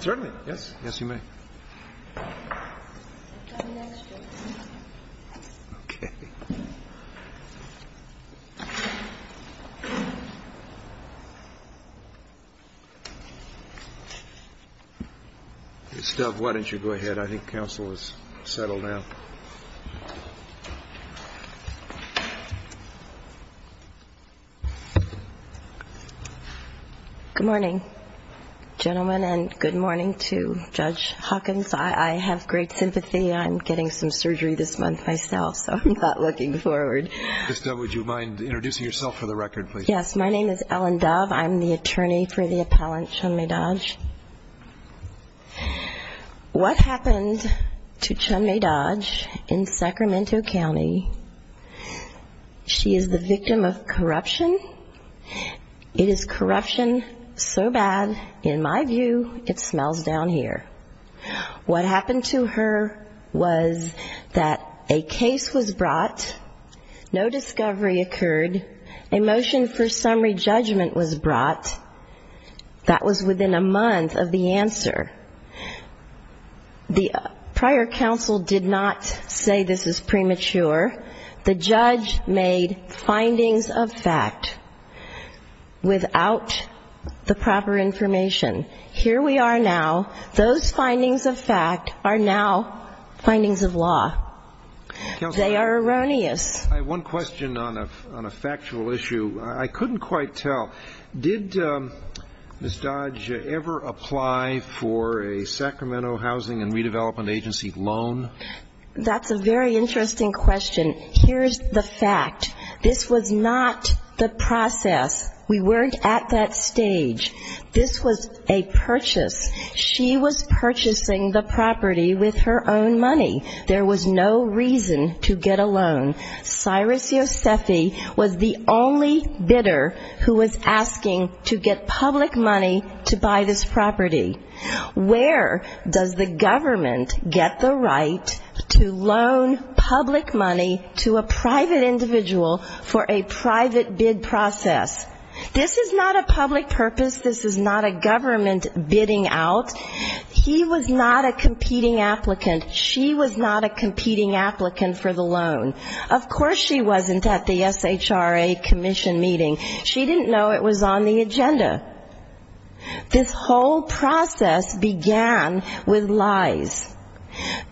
Certainly, yes, yes, you may. Okay. Ms. Dove, why don't you go ahead? I think counsel is settled now. Good morning, gentlemen, and good morning to Judge Hawkins. I have great sympathy. I'm getting some surgery this month myself, so I'm not looking forward. Ms. Dove, would you mind introducing yourself for the record, please? Yes, my name is Ellen Dove. I'm the attorney for the appellant, Chun-Mei Dodge. What happened to Chun-Mei Dodge in Sacramento County, she is the victim of corruption. It is corruption so bad, in my view, it smells down here. What happened to her was that a case was brought, no discovery occurred, a motion for summary judgment was brought. That was within a month of the answer. The prior counsel did not say this is premature. The judge made findings of fact without the proper information. Here we are now, those findings of fact are now findings of law. They are erroneous. I have one question on a factual issue. I couldn't quite tell. Did Ms. Dodge ever apply for a Sacramento Housing and Redevelopment Agency loan? That's a very interesting question. Here's the fact. This was not the process. We weren't at that stage. This was a purchase. She was purchasing the property with her own money. There was no reason to get a loan. Cyrus Yosefi was the only bidder who was asking to get public money to buy this property. Where does the government get the right to loan public money to a private individual for a private bid process? This is not a public purpose. This is not a government bidding out. He was not a competing applicant. She was not a competing applicant for the loan. Of course she wasn't at the SHRA commission meeting. She didn't know it was on the agenda. This whole process began with lies.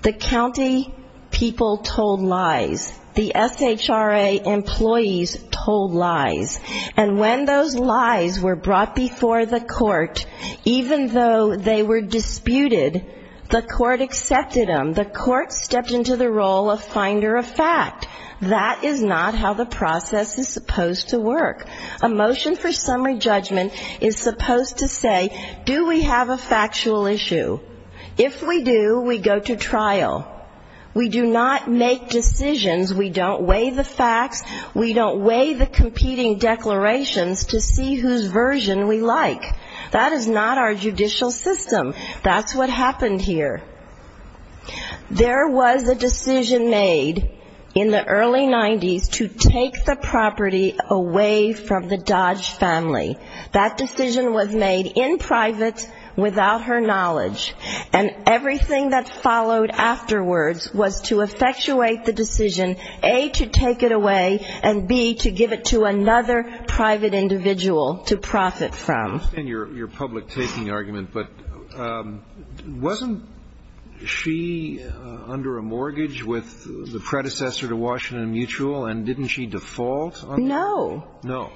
The county people told lies. The SHRA employees told lies. And when those lies were brought before the court, even though they were disputed, the court accepted them. The court stepped into the role of finder of fact. That is not how the process is supposed to work. A motion for summary judgment is supposed to say, do we have a factual issue? If we do, we go to trial. We do not make decisions. We don't weigh the facts. We don't weigh the competing declarations to see whose version we like. That is not our judicial system. That's what happened here. There was a decision made in the early 90s to take the property away from the Dodge family. That decision was made in private without her knowledge. And everything that followed afterwards was to effectuate the decision, A, to take it away, and, B, to give it to another private individual to profit from. I understand your public taking argument. But wasn't she under a mortgage with the predecessor to Washington Mutual, and didn't she default? No. No.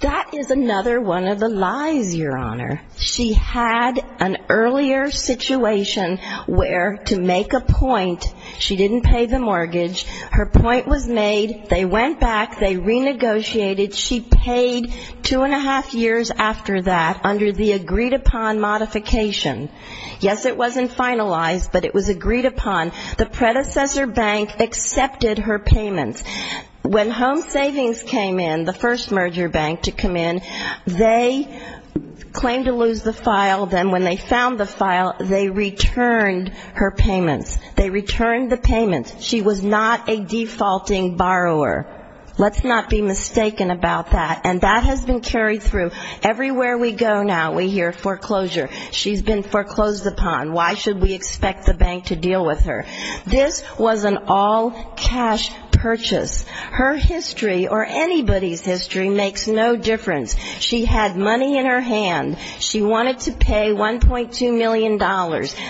That is another one of the lies, Your Honor. She had an earlier situation where, to make a point, she didn't pay the mortgage. Her point was made. They went back. They renegotiated. She paid two and a half years after that under the agreed upon modification. Yes, it wasn't finalized, but it was agreed upon. The predecessor bank accepted her payments. When Home Savings came in, the first merger bank to come in, they claimed to lose the file. Then when they found the file, they returned her payments. They returned the payments. She was not a defaulting borrower. Let's not be mistaken about that. And that has been carried through. Everywhere we go now we hear foreclosure. She's been foreclosed upon. Why should we expect the bank to deal with her? This was an all-cash purchase. Her history or anybody's history makes no difference. She had money in her hand. She wanted to pay $1.2 million.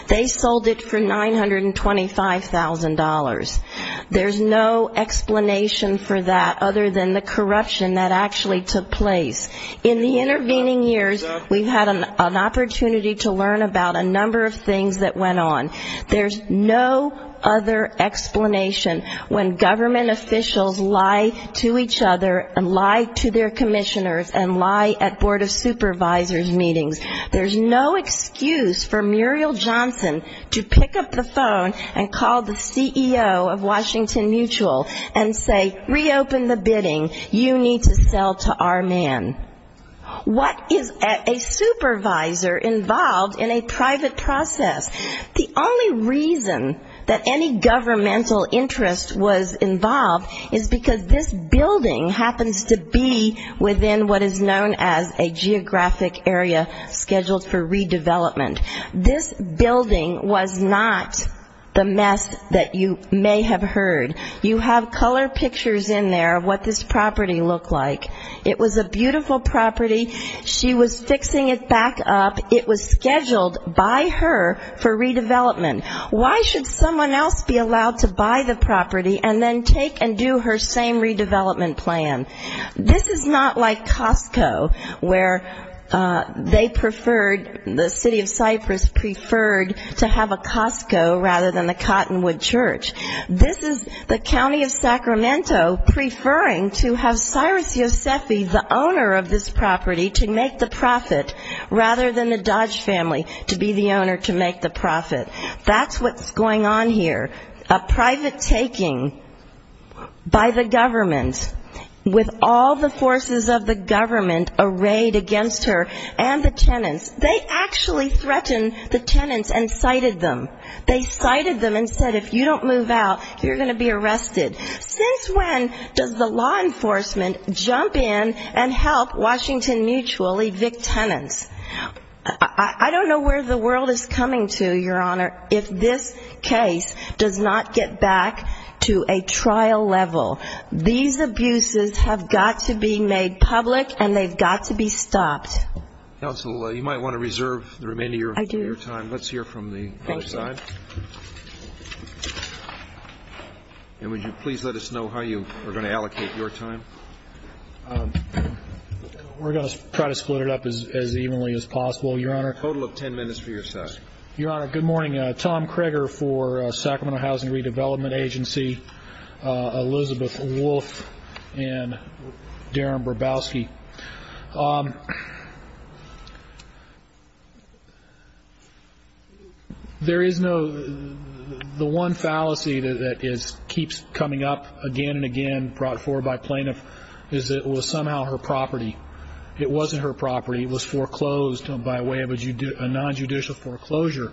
They sold it for $925,000. There's no explanation for that other than the corruption that actually took place. In the intervening years, we've had an opportunity to learn about a number of things that went on. There's no other explanation when government officials lie to each other and lie to their commissioners and lie at Board of Supervisors meetings. There's no excuse for Muriel Johnson to pick up the phone and call the CEO of Washington Mutual and say, Reopen the bidding. You need to sell to our man. What is a supervisor involved in a private process? The only reason that any governmental interest was involved is because this building happens to be within what is known as a geographic area scheduled for redevelopment. This building was not the mess that you may have heard. You have color pictures in there of what this property looked like. It was a beautiful property. She was fixing it back up. It was scheduled by her for redevelopment. Why should someone else be allowed to buy the property and then take and do her same redevelopment plan? This is not like Costco, where they preferred, the city of Cyprus preferred, to have a Costco rather than the Cottonwood Church. This is the county of Sacramento preferring to have Cyrus Yosefi, the owner of this property, to make the profit rather than the Dodge family to be the owner to make the profit. That's what's going on here. A private taking by the government, with all the forces of the government arrayed against her and the tenants. They actually threatened the tenants and cited them. They cited them and said, If you don't move out, you're going to be arrested. Since when does the law enforcement jump in and help Washington Mutual evict tenants? I don't know where the world is coming to, Your Honor, if this case does not get back to a trial level. These abuses have got to be made public and they've got to be stopped. Counsel, you might want to reserve the remainder of your time. I do. Let's hear from the other side. And would you please let us know how you are going to allocate your time? We're going to try to split it up as evenly as possible, Your Honor. A total of ten minutes for your side. Your Honor, good morning. Tom Kreger for Sacramento Housing Redevelopment Agency. Elizabeth Wolf and Darren Brabowski. There is no the one fallacy that keeps coming up again and again brought forward by plaintiff is that it was somehow her property. It wasn't her property. It was foreclosed by way of a nonjudicial foreclosure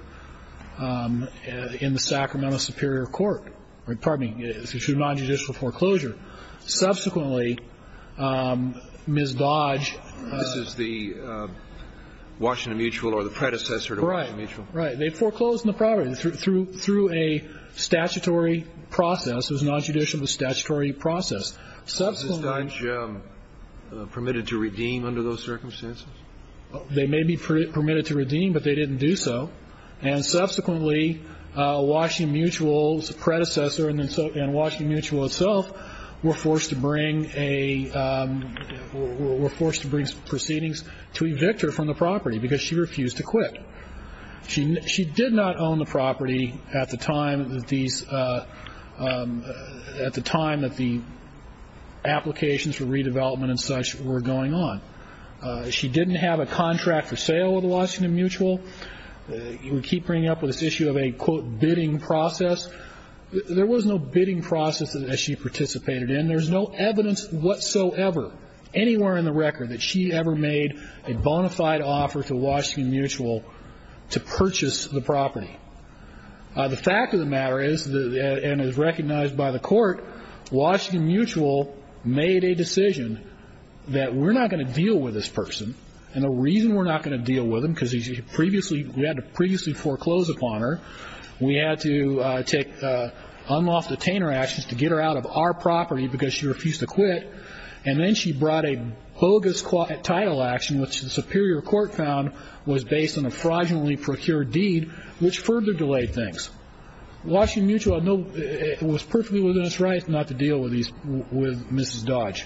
in the Sacramento Superior Court. Pardon me. It was a nonjudicial foreclosure. Subsequently, Ms. Dodge. This is the Washington Mutual or the predecessor to Washington Mutual. Right. They foreclosed the property through a statutory process. It was a nonjudicial statutory process. Was Ms. Dodge permitted to redeem under those circumstances? They may be permitted to redeem, but they didn't do so. Subsequently, Washington Mutual's predecessor and Washington Mutual itself were forced to bring proceedings to evict her from the property because she refused to quit. She did not own the property at the time that the applications for redevelopment and such were going on. She didn't have a contract for sale with Washington Mutual. We keep bringing up this issue of a, quote, bidding process. There was no bidding process that she participated in. There's no evidence whatsoever anywhere in the record that she ever made a bona fide offer to Washington Mutual to purchase the property. The fact of the matter is, and is recognized by the court, Washington Mutual made a decision that we're not going to deal with this person, and the reason we're not going to deal with him because we had to previously foreclose upon her, we had to take unlawful detainer actions to get her out of our property because she refused to quit, and then she brought a bogus title action, which the superior court found was based on a fraudulently procured deed, which further delayed things. Washington Mutual was perfectly within its rights not to deal with Mrs. Dodge.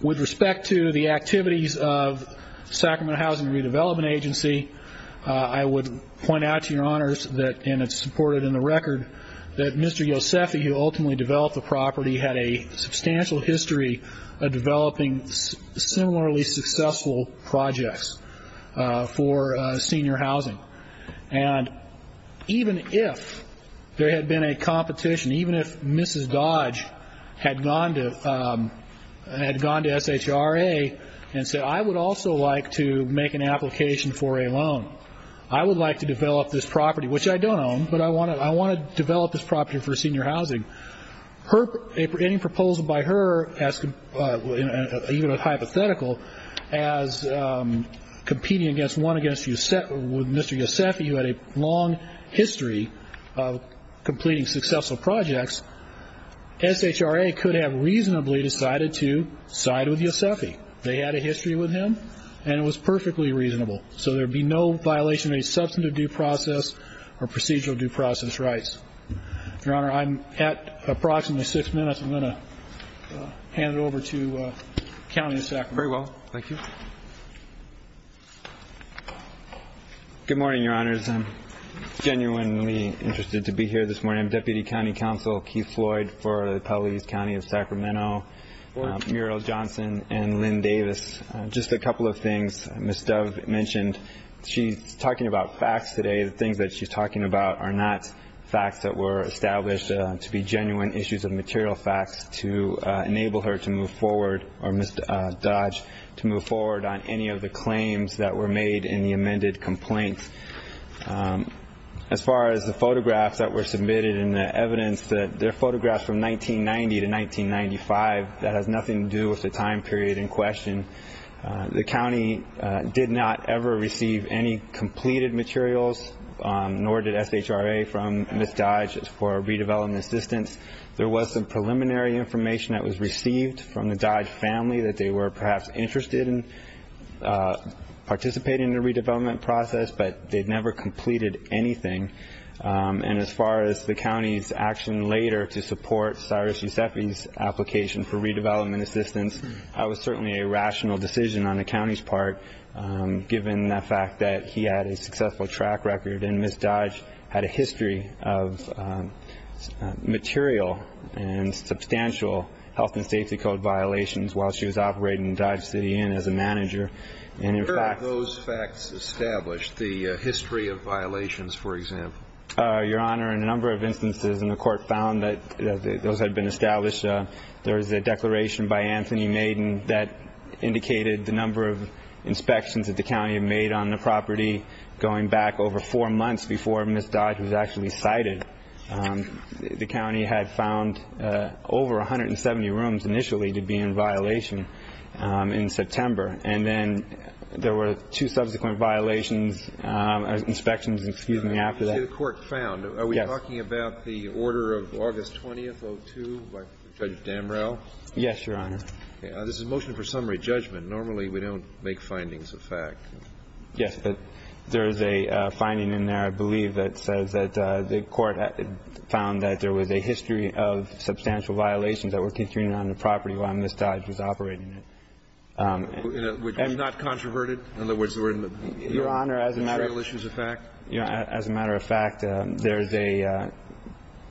With respect to the activities of Sacramento Housing and Redevelopment Agency, I would point out to your honors, and it's supported in the record, that Mr. Yosefi, who ultimately developed the property, had a substantial history of developing similarly successful projects for senior housing. And even if there had been a competition, even if Mrs. Dodge had gone to SHRA and said, I would also like to make an application for a loan. I would like to develop this property, which I don't own, but I want to develop this property for senior housing. Any proposal by her, even a hypothetical, as competing one against Mr. Yosefi, who had a long history of completing successful projects, SHRA could have reasonably decided to side with Yosefi. They had a history with him, and it was perfectly reasonable. So there would be no violation of any substantive due process or procedural due process rights. Your honor, I'm at approximately six minutes. I'm going to hand it over to the county of Sacramento. Very well. Thank you. Good morning, your honors. I'm genuinely interested to be here this morning. I'm Deputy County Counsel Keith Floyd for the Pelleas County of Sacramento, Muriel Johnson, and Lynn Davis. Just a couple of things Ms. Dove mentioned. She's talking about facts today. The things that she's talking about are not facts that were established to be genuine issues of material facts to enable her to move forward or Ms. Dodge to move forward on any of the claims that were made in the amended complaint. As far as the photographs that were submitted and the evidence, they're photographs from 1990 to 1995 that has nothing to do with the time period in question. The county did not ever receive any completed materials, nor did SHRA from Ms. Dodge for redevelopment assistance. There was some preliminary information that was received from the Dodge family that they were perhaps interested in participating in the redevelopment process, but they'd never completed anything. And as far as the county's action later to support Cyrus Yusefi's application for redevelopment assistance, that was certainly a rational decision on the county's part given the fact that he had a successful track record and Ms. Dodge had a history of material and substantial health and safety code violations while she was operating Dodge City Inn as a manager. Where are those facts established, the history of violations, for example? Your Honor, in a number of instances in the court found that those had been established. There was a declaration by Anthony Maiden that indicated the number of inspections that the county had made on the property going back over four months before Ms. Dodge was actually cited. The county had found over 170 rooms initially to be in violation in September, and then there were two subsequent violations, inspections, excuse me, after that. The county had found, are we talking about the order of August 20th, 02, by Judge Damrell? Yes, Your Honor. This is a motion for summary judgment. Normally we don't make findings of fact. Yes, but there is a finding in there, I believe, that says that the court had found that there was a history of substantial violations that were continuing on the property while Ms. Dodge was operating it. Which was not controverted? In other words, there were no material issues of fact? As a matter of fact, there is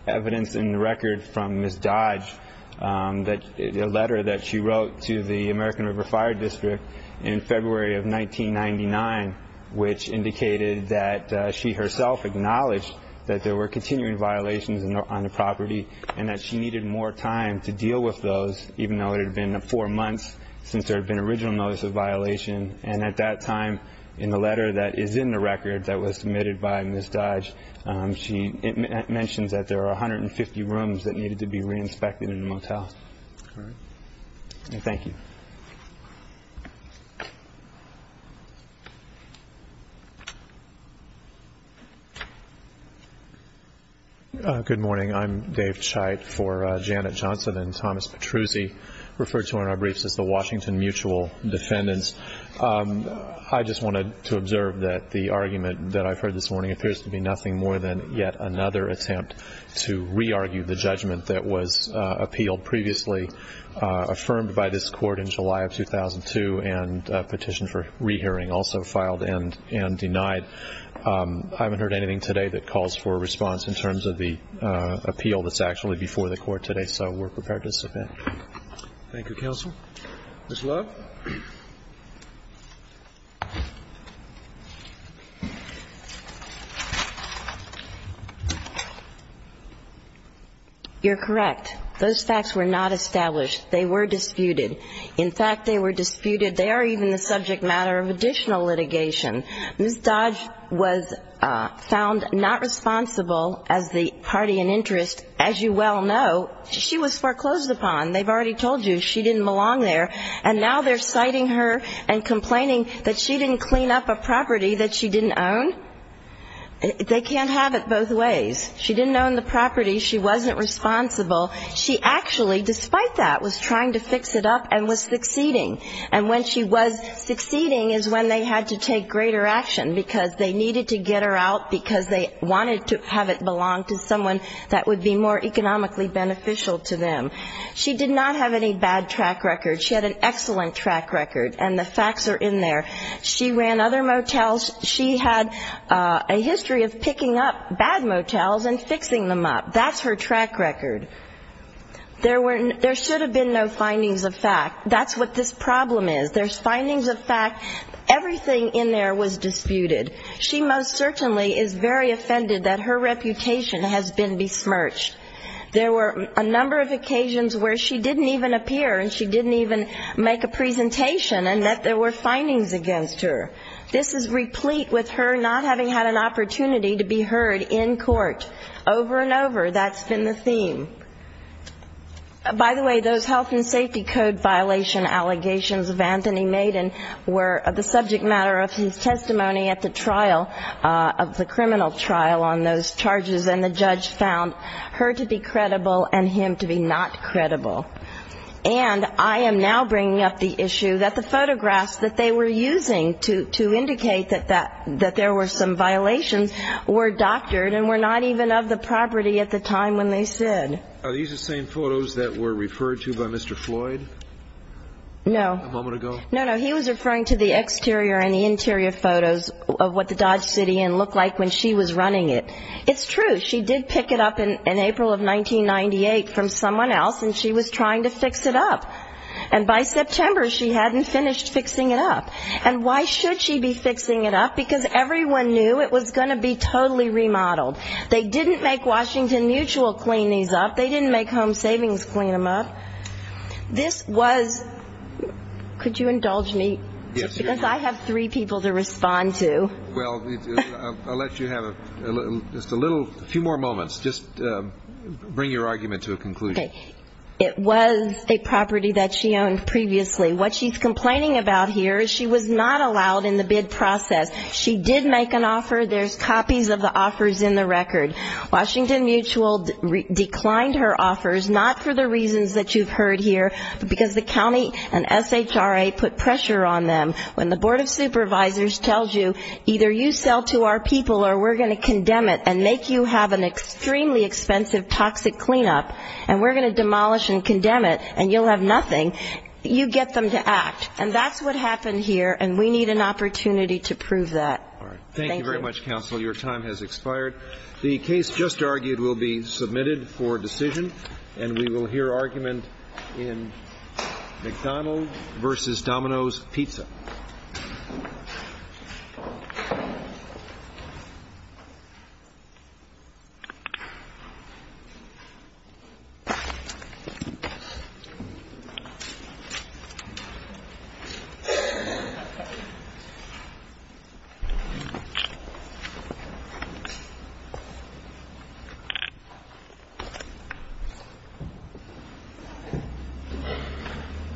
evidence in the record from Ms. Dodge, a letter that she wrote to the American River Fire District in February of 1999, which indicated that she herself acknowledged that there were continuing violations on the property and that she needed more time to deal with those, even though it had been four months since there had been original notice of violation. And at that time, in the letter that is in the record that was submitted by Ms. Dodge, it mentions that there are 150 rooms that needed to be re-inspected in the motel. All right. Thank you. Good morning. I'm Dave Cheit for Janet Johnson and Thomas Petruzzi, referred to in our briefs as the Washington Mutual Defendants. I just wanted to observe that the argument that I've heard this morning appears to be nothing more than yet another attempt to re-argue the judgment that was appealed previously, affirmed by this court in July of 2002, and a petition for re-hearing also filed and denied. I haven't heard anything today that calls for a response in terms of the appeal that's actually before the court today, so we're prepared to submit. Thank you, counsel. Ms. Love. You're correct. Those facts were not established. They were disputed. In fact, they were disputed. They are even the subject matter of additional litigation. Ms. Dodge was found not responsible as the party in interest. As you well know, she was foreclosed upon. They've already told you she didn't belong there. And now they're citing her and complaining that she didn't clean up a property that she didn't own. They can't have it both ways. She didn't own the property. She wasn't responsible. She actually, despite that, was trying to fix it up and was succeeding. And when she was succeeding is when they had to take greater action, because they needed to get her out because they wanted to have it belong to someone that would be more economically beneficial to them. She did not have any bad track record. She had an excellent track record, and the facts are in there. She ran other motels. She had a history of picking up bad motels and fixing them up. That's her track record. There should have been no findings of fact. That's what this problem is. There's findings of fact. Everything in there was disputed. She most certainly is very offended that her reputation has been besmirched. There were a number of occasions where she didn't even appear and she didn't even make a presentation and that there were findings against her. This is replete with her not having had an opportunity to be heard in court. Over and over, that's been the theme. By the way, those health and safety code violation allegations of Anthony Maiden were the subject matter of his testimony at the trial of the criminal trial on those charges, and the judge found her to be credible and him to be not credible. And I am now bringing up the issue that the photographs that they were using to indicate that there were some violations were doctored and were not even of the property at the time when they said. Are these the same photos that were referred to by Mr. Floyd? No. A moment ago? No, no. He was referring to the exterior and the interior photos of what the Dodge City Inn looked like when she was running it. It's true. She did pick it up in April of 1998 from someone else, and she was trying to fix it up. And by September, she hadn't finished fixing it up. And why should she be fixing it up? Because everyone knew it was going to be totally remodeled. They didn't make Washington Mutual clean these up. They didn't make Home Savings clean them up. This was, could you indulge me? Yes. Because I have three people to respond to. Well, I'll let you have just a little, a few more moments. Just bring your argument to a conclusion. Okay. It was a property that she owned previously. What she's complaining about here is she was not allowed in the bid process. She did make an offer. There's copies of the offers in the record. Washington Mutual declined her offers, not for the reasons that you've heard here, but because the county and SHRA put pressure on them. When the Board of Supervisors tells you, either you sell to our people or we're going to condemn it and make you have an extremely expensive toxic cleanup, and we're going to demolish and condemn it and you'll have nothing, you get them to act. And that's what happened here, and we need an opportunity to prove that. All right. Thank you. Thank you very much, counsel. Your time has expired. The case just argued will be submitted for decision, and we will hear argument in McDonald v. Domino's Pizza. Thank you.